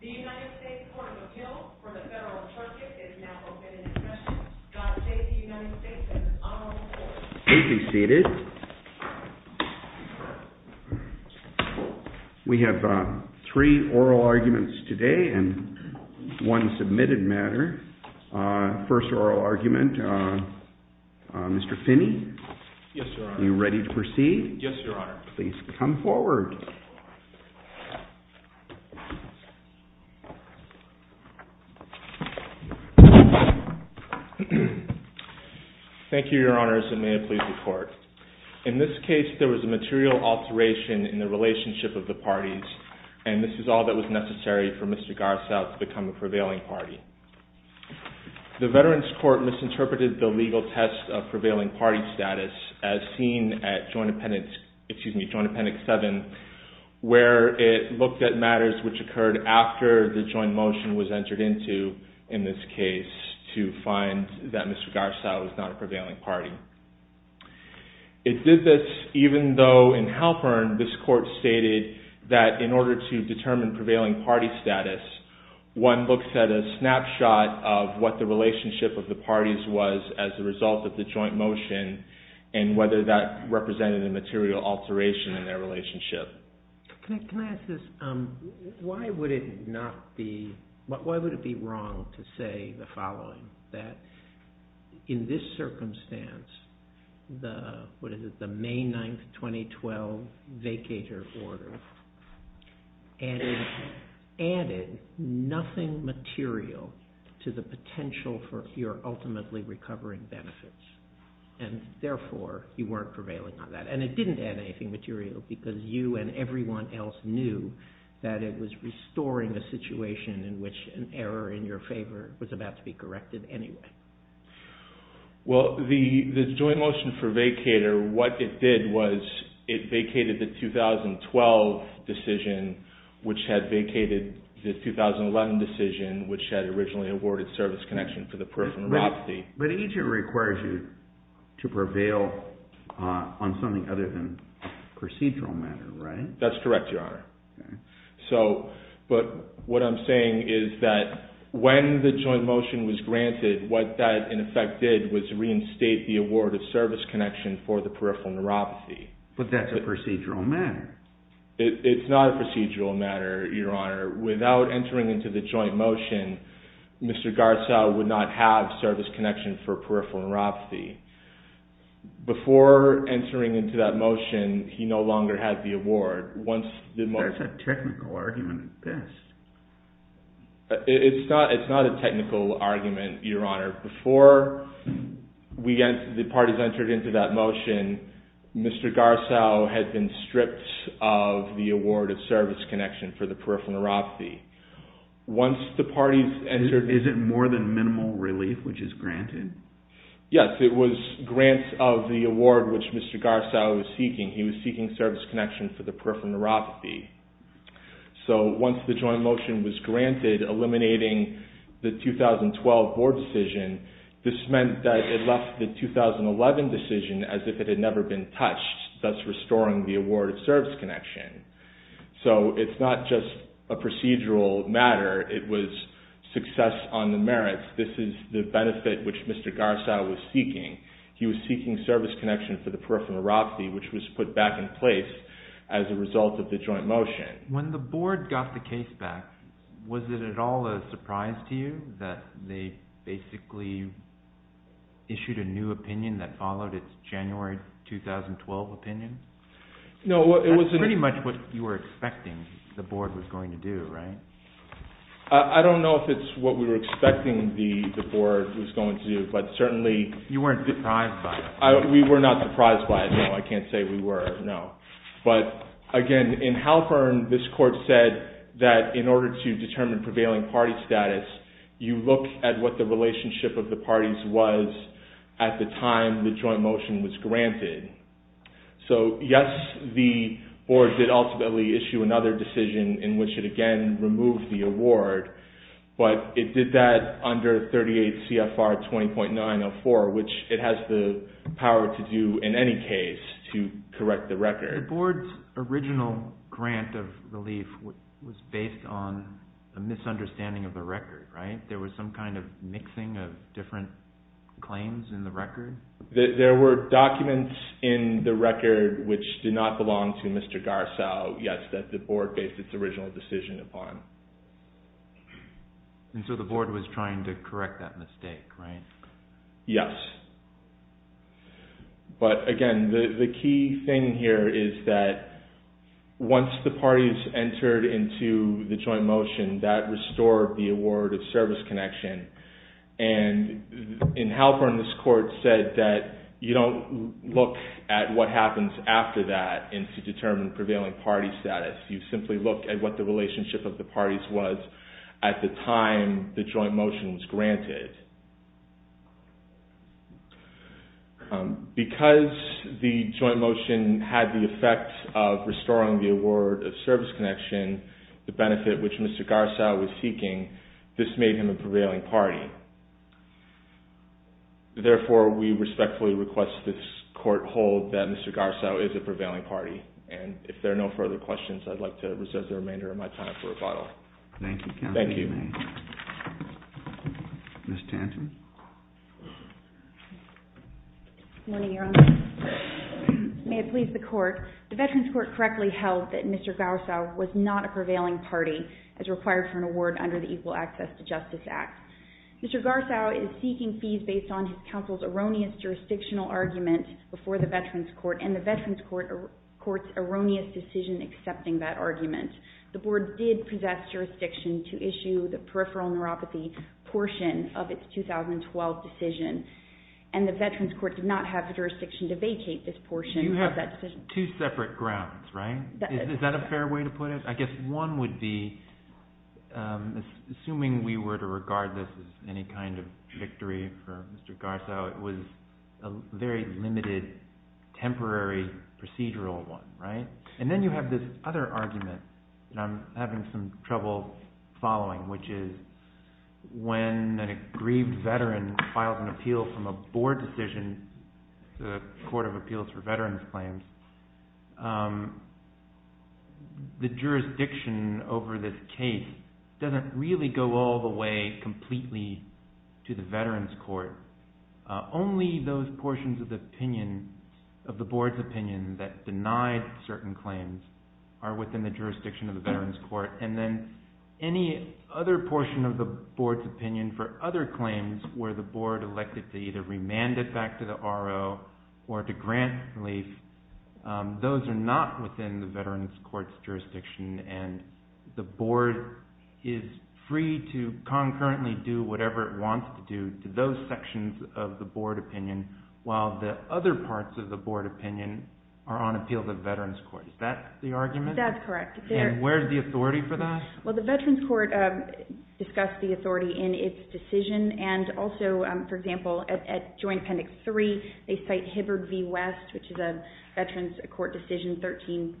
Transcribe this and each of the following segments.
The United States Court of Appeals for the Federal Trustee is now open for discussion. Please be seated. We have three oral arguments today and one submitted matter. First oral argument, Mr. Finney? Yes, Your Honor. Are you ready to proceed? Yes, Your Honor. Please come forward. Thank you, Your Honors, and may it please the Court. In this case, there was a material alteration in the relationship of the parties, and this is all that was necessary for Mr. Garsaw to become a prevailing party. The Veterans Court misinterpreted the legal test of prevailing party status as seen at Joint Appendix 7, where it looked at matters which occurred after the joint motion was entered into, in this case, to find that Mr. Garsaw was not a prevailing party. It did this even though in Halpern, this Court stated that in order to determine prevailing party status, one looks at a snapshot of what the relationship of the parties was as a result of the joint motion and whether that represented a material alteration in their relationship. Can I ask this? Why would it be wrong to say the following, that in this circumstance, the May 9, 2012, vacator order added nothing material to the potential for your ultimately recovering benefits, and therefore you weren't prevailing on that? And it didn't add anything material because you and everyone else knew that it was restoring a situation in which an error in your favor was about to be corrected anyway. Well, the joint motion for vacator, what it did was it vacated the 2012 decision, which had vacated the 2011 decision, which had originally awarded service connection for the peripheral neuropathy. But each of them requires you to prevail on something other than procedural matter, right? That's correct, Your Honor. But what I'm saying is that when the joint motion was granted, what that in effect did was reinstate the award of service connection for the peripheral neuropathy. But that's a procedural matter. It's not a procedural matter, Your Honor. Without entering into the joint motion, Mr. Garza would not have service connection for peripheral neuropathy. Before entering into that motion, he no longer had the award. That's a technical argument at best. It's not a technical argument, Your Honor. Before the parties entered into that motion, Mr. Garza had been stripped of the award of service connection for the peripheral neuropathy. Is it more than minimal relief which is granted? Yes, it was grants of the award which Mr. Garza was seeking. He was seeking service connection for the peripheral neuropathy. So once the joint motion was granted, eliminating the 2012 board decision, this meant that it left the 2011 decision as if it had never been touched, thus restoring the award of service connection. So it's not just a procedural matter. It was success on the merits. This is the benefit which Mr. Garza was seeking. He was seeking service connection for the peripheral neuropathy which was put back in place as a result of the joint motion. When the board got the case back, was it at all a surprise to you that they basically issued a new opinion that followed its January 2012 opinion? That's pretty much what you were expecting the board was going to do, right? I don't know if it's what we were expecting the board was going to do, but certainly you weren't surprised by it. We were not surprised by it, no. I can't say we were, no. But again, in Halpern, this court said that in order to determine prevailing party status, you look at what the relationship of the parties was at the time the joint motion was granted. So yes, the board did ultimately issue another decision in which it again removed the award, but it did that under 38 CFR 20.904, which it has the power to do in any case to correct the record. The board's original grant of relief was based on a misunderstanding of the record, right? There was some kind of mixing of different claims in the record? There were documents in the record which did not belong to Mr. Garza, yes, that the board based its original decision upon. And so the board was trying to correct that mistake, right? Yes. But again, the key thing here is that once the parties entered into the joint motion, that restored the award of service connection. And in Halpern, this court said that you don't look at what happens after that in order to determine prevailing party status. You simply look at what the relationship of the parties was at the time the joint motion was granted. Because the joint motion had the effect of restoring the award of service connection, the benefit which Mr. Garza was seeking, this made him a prevailing party. Therefore, we respectfully request this court hold that Mr. Garza is a prevailing party. And if there are no further questions, I'd like to reserve the remainder of my time for rebuttal. Thank you, counsel. Thank you. Ms. Tanton? Good morning, Your Honor. May it please the court. The Veterans Court correctly held that Mr. Garza was not a prevailing party as required for an award under the Equal Access to Justice Act. Mr. Garza is seeking fees based on his counsel's erroneous jurisdictional argument before the Veterans Court and the Veterans Court's erroneous decision accepting that argument. The board did possess jurisdiction to issue the peripheral neuropathy portion of its 2012 decision. And the Veterans Court did not have jurisdiction to vacate this portion of that decision. You have two separate grounds, right? Is that a fair way to put it? I guess one would be, assuming we were to regard this as any kind of victory for Mr. Garza, it was a very limited temporary procedural one, right? And then you have this other argument that I'm having some trouble following, which is when an aggrieved veteran filed an appeal from a board decision, the Court of Appeals for Veterans Claims, the jurisdiction over this case doesn't really go all the way completely to the Veterans Court. Only those portions of the board's opinion that denied certain claims are within the jurisdiction of the Veterans Court. And then any other portion of the board's opinion for other claims where the board elected to either remand it back to the RO or to grant relief, those are not within the Veterans Court's jurisdiction. And the board is free to concurrently do whatever it wants to do to those sections of the board opinion, while the other parts of the board opinion are on appeal to the Veterans Court. Is that the argument? That's correct. And where is the authority for that? Well, the Veterans Court discussed the authority in its decision. And also, for example, at Joint Conduct 3, they cite Hibbard v. West, which is a Veterans Court decision, 13.546,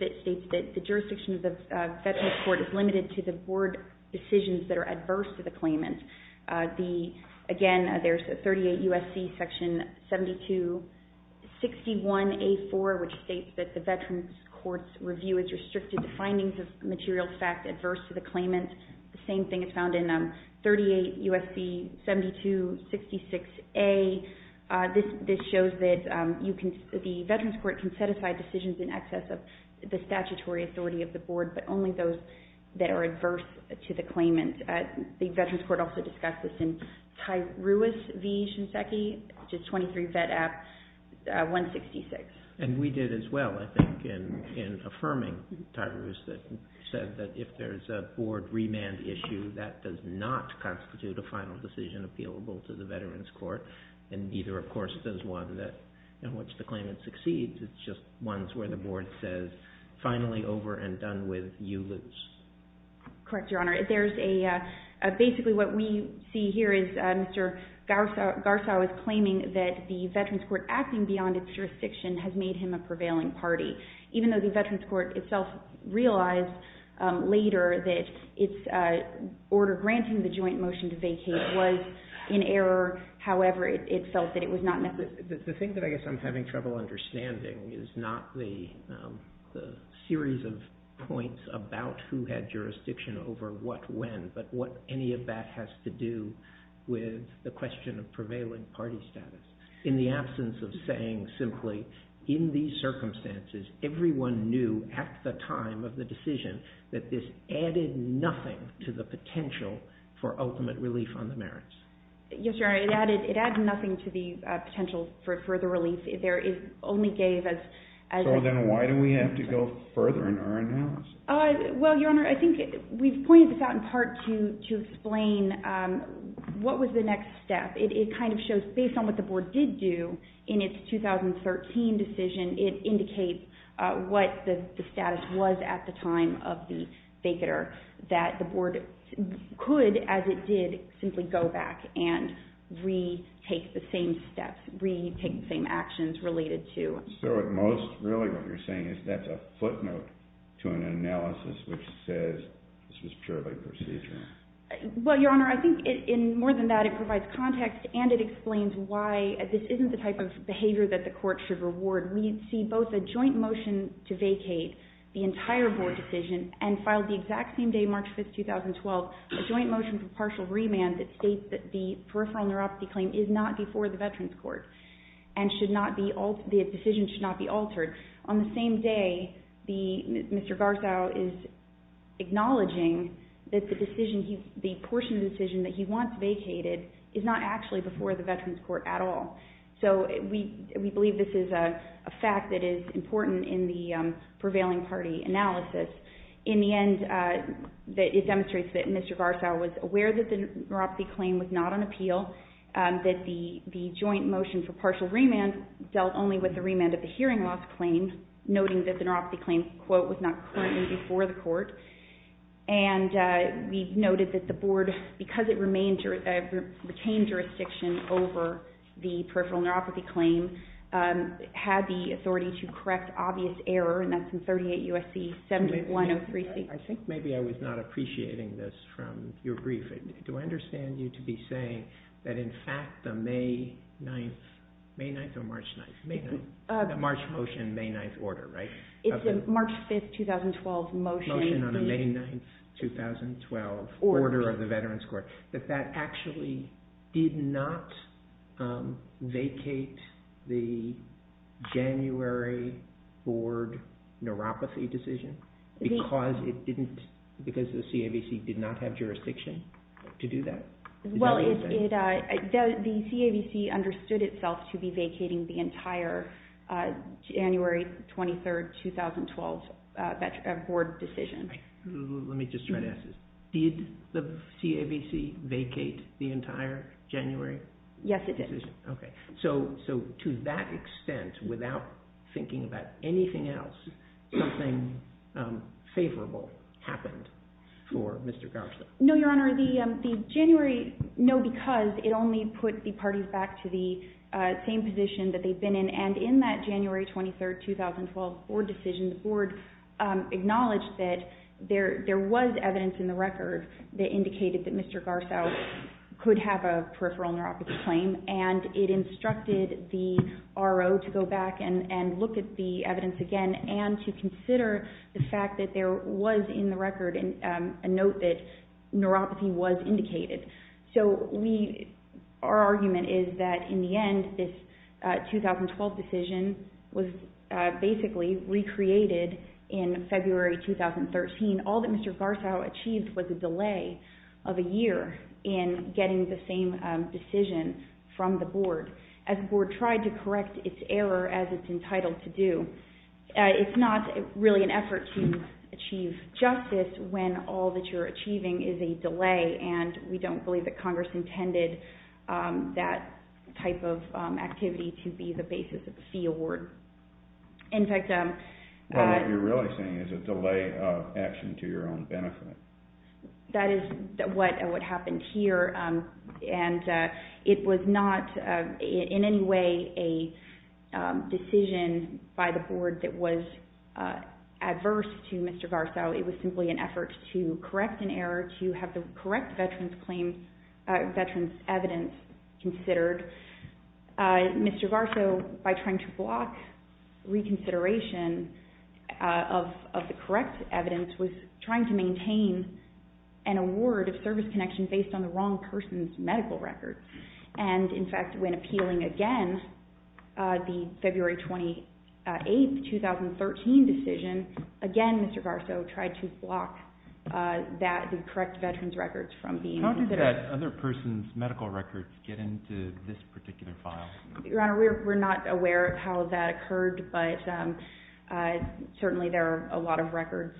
that states that the jurisdiction of the Veterans Court is limited to the board decisions that are adverse to the claimant. Again, there's 38 U.S.C. section 7261a.4, which states that the Veterans Court's review is restricted to findings of material fact adverse to the claimant. The same thing is found in 38 U.S.C. 7266a. This shows that the Veterans Court can set aside decisions in excess of the statutory authority of the board, but only those that are adverse to the claimant. The Veterans Court also discussed this in Tyruis v. Shinseki, which is 23 Vedap 166. And we did as well, I think, in affirming Tyruis, that said that if there's a board remand issue, that does not constitute a final decision appealable to the Veterans Court, and neither, of course, does one in which the claimant succeeds. It's just ones where the board says, finally, over and done with, you lose. Correct, Your Honor. Basically, what we see here is Mr. Garsow is claiming that the Veterans Court acting beyond its jurisdiction has made him a prevailing party, even though the Veterans Court itself realized later that its order granting the joint motion to vacate was in error. However, it felt that it was not necessary. The thing that I guess I'm having trouble understanding is not the series of points about who had jurisdiction over what when, but what any of that has to do with the question of prevailing party status. In the absence of saying simply, in these circumstances, everyone knew at the time of the decision that this added nothing to the potential for ultimate relief on the merits. Yes, Your Honor. It added nothing to the potential for further relief. So then why do we have to go further in our analysis? Well, Your Honor, I think we've pointed this out in part to explain what was the next step. It kind of shows, based on what the board did do in its 2013 decision, it indicates what the status was at the time of the vacater, that the board could, as it did, simply go back and retake the same steps, retake the same actions related to. So at most, really what you're saying is that's a footnote to an analysis which says this was purely procedural. Well, Your Honor, I think more than that, it provides context and it explains why this isn't the type of behavior that the court should reward. We see both a joint motion to vacate the entire board decision and filed the exact same day, March 5, 2012, a joint motion for partial remand that states that the peripheral neuropathy claim is not before the Veterans Court and the decision should not be altered. On the same day, Mr. Garzao is acknowledging that the portion of the decision that he wants vacated is not actually before the Veterans Court at all. So we believe this is a fact that is important in the prevailing party analysis. In the end, it demonstrates that Mr. Garzao was aware that the neuropathy claim was not on appeal, that the joint motion for partial remand dealt only with the remand of the hearing loss claim, noting that the neuropathy claim, quote, was not currently before the court. And we noted that the board, because it retained jurisdiction over the peripheral neuropathy claim, had the authority to correct obvious error, and that's in 38 U.S.C. 7103C. I think maybe I was not appreciating this from your brief. Do I understand you to be saying that in fact the May 9th, May 9th or March 9th, the March motion, May 9th order, right? It's the March 5th, 2012 motion. Motion on the May 9th, 2012 order of the Veterans Court, that that actually did not vacate the January board neuropathy decision because the CAVC did not have jurisdiction to do that? Well, the CAVC understood itself to be vacating the entire January 23rd, 2012 board decision. Let me just try to ask this. Did the CAVC vacate the entire January board decision? Yes, it did. Okay. So to that extent, without thinking about anything else, something favorable happened for Mr. Garsow? No, Your Honor. The January, no, because it only put the parties back to the same position that they'd been in, and in that January 23rd, 2012 board decision, the board acknowledged that there was evidence in the record that indicated that Mr. Garsow could have a peripheral neuropathy claim, and it instructed the RO to go back and look at the evidence again and to consider the fact that there was in the record a note that neuropathy was indicated. So our argument is that in the end, this 2012 decision was basically recreated in February 2013. All that Mr. Garsow achieved was a delay of a year in getting the same decision from the board. As the board tried to correct its error as it's entitled to do, it's not really an effort to achieve justice when all that you're achieving is a delay, and we don't believe that Congress intended that type of activity to be the basis of the fee award. Well, what you're really saying is a delay of action to your own benefit. That is what happened here, and it was not in any way a decision by the board that was adverse to Mr. Garsow. It was simply an effort to correct an error, to have the correct veterans evidence considered. Mr. Garsow, by trying to block reconsideration of the correct evidence, was trying to maintain an award of service connection based on the wrong person's medical record. In fact, when appealing again the February 28, 2013 decision, again Mr. Garsow tried to block the correct veterans records from being included. How did that other person's medical records get into this particular file? Your Honor, we're not aware of how that occurred, but certainly there are a lot of records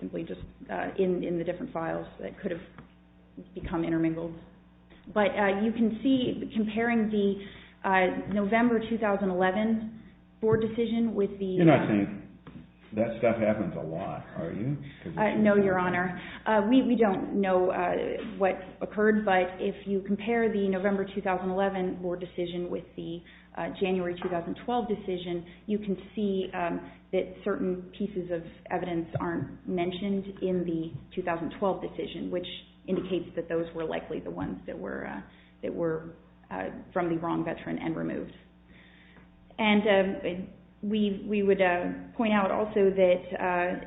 simply just in the different files that could have become intermingled. But you can see, comparing the November 2011 board decision with the— You're not saying that stuff happens a lot, are you? No, Your Honor. We don't know what occurred, but if you compare the November 2011 board decision with the January 2012 decision, you can see that certain pieces of evidence aren't mentioned in the 2012 decision, which indicates that those were likely the ones that were from the wrong veteran and removed. And we would point out also that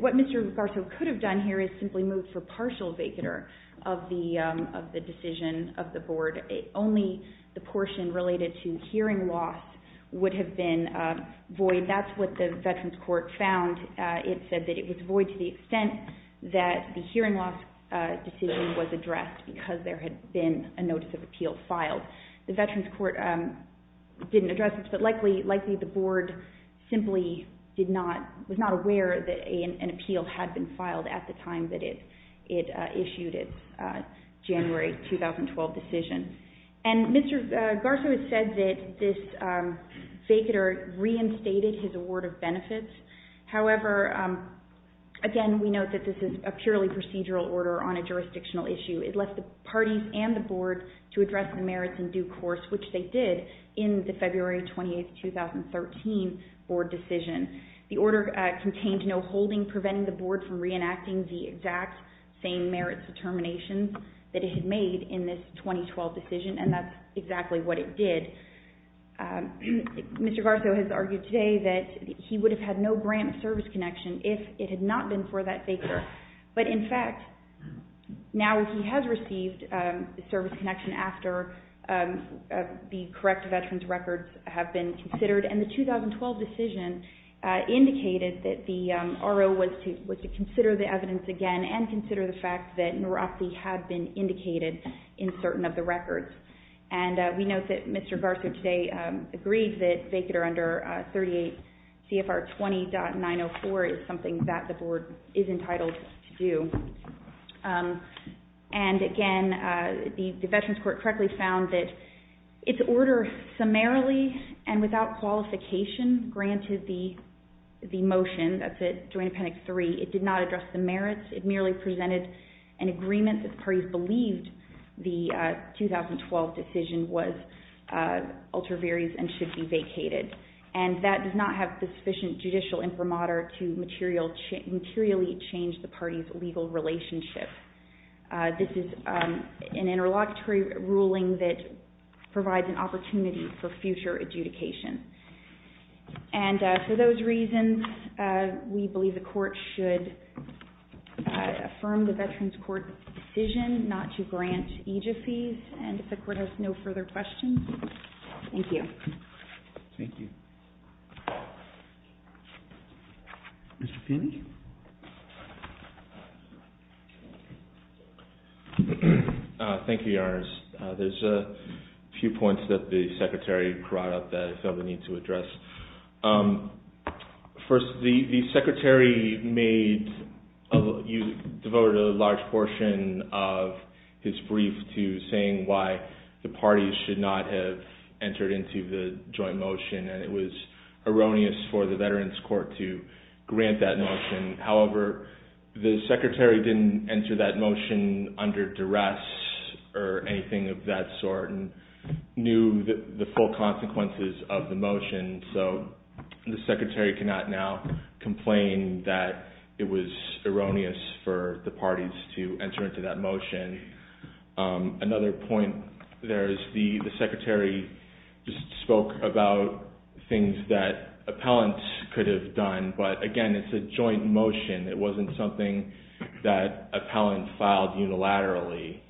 what Mr. Garsow could have done here is simply moved for partial vacater of the decision of the board. Only the portion related to hearing loss would have been void. That's what the Veterans Court found. It said that it was void to the extent that the hearing loss decision was addressed because there had been a notice of appeal filed. The Veterans Court didn't address this, but likely the board simply was not aware that an appeal had been filed at the time that it issued its January 2012 decision. And Mr. Garsow has said that this vacater reinstated his award of benefits. However, again, we note that this is a purely procedural order on a jurisdictional issue. It left the parties and the board to address the merits in due course, which they did in the February 28, 2013 board decision. The order contained no holding preventing the board from reenacting the exact same merits determinations that it had made in this 2012 decision, and that's exactly what it did. Mr. Garsow has argued today that he would have had no grant service connection if it had not been for that vacater. But, in fact, now he has received service connection after the correct veterans records have been considered, and the 2012 decision indicated that the RO was to consider the evidence again and consider the fact that neuropathy had been indicated in certain of the records. And we note that Mr. Garsow today agreed that vacater under 38 CFR 20.904 is something that the board is entitled to do. And, again, the Veterans Court correctly found that its order summarily and without qualification granted the motion, that's at Joint Appendix 3, it did not address the merits. It merely presented an agreement that the parties believed the 2012 decision was ultra viris and should be vacated. And that does not have sufficient judicial imprimatur to materially change the parties' legal relationship. This is an interlocutory ruling that provides an opportunity for future adjudication. And for those reasons, we believe the court should affirm the Veterans Court decision not to grant EJF fees. And if the court has no further questions, thank you. Thank you. Mr. Finney? Thank you, Your Honor. There's a few points that the Secretary brought up that I felt the need to address. First, the Secretary devoted a large portion of his brief to saying why the parties should not have entered into the joint motion. And it was erroneous for the Veterans Court to grant that motion. However, the Secretary didn't enter that motion under duress or anything of that sort and knew the full consequences of the motion. So the Secretary cannot now complain that it was erroneous for the parties to enter into that motion. Another point there is the Secretary just spoke about things that appellants could have done, but again, it's a joint motion. It wasn't something that appellants filed unilaterally.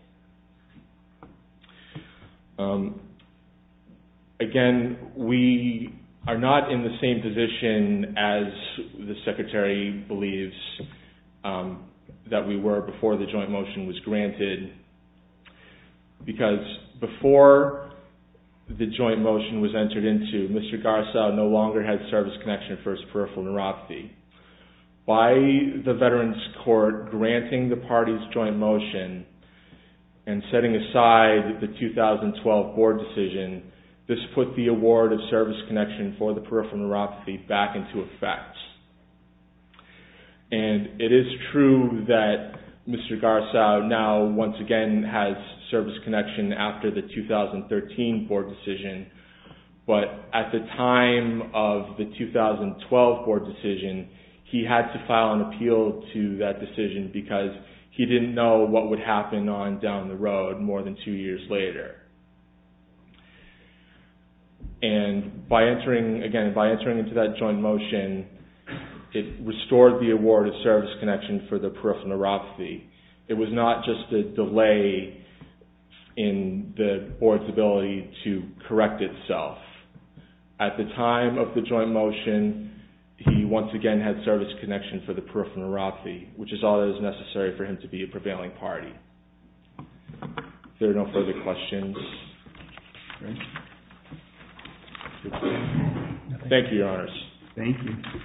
Again, we are not in the same position as the Secretary believes that we were before the joint motion was granted. Because before the joint motion was entered into, Mr. Garza no longer had service connection for his peripheral neuropathy. By the Veterans Court granting the parties joint motion and setting aside the 2012 board decision, this put the award of service connection for the peripheral neuropathy back into effect. And it is true that Mr. Garza now once again has service connection after the 2013 board decision. But at the time of the 2012 board decision, he had to file an appeal to that decision because he didn't know what would happen down the road more than two years later. And by entering into that joint motion, it restored the award of service connection for the peripheral neuropathy. It was not just a delay in the board's ability to correct itself. At the time of the joint motion, he once again had service connection for the peripheral neuropathy, which is all that is necessary for him to be a prevailing party. If there are no further questions. Thank you, Your Honors. Thank you.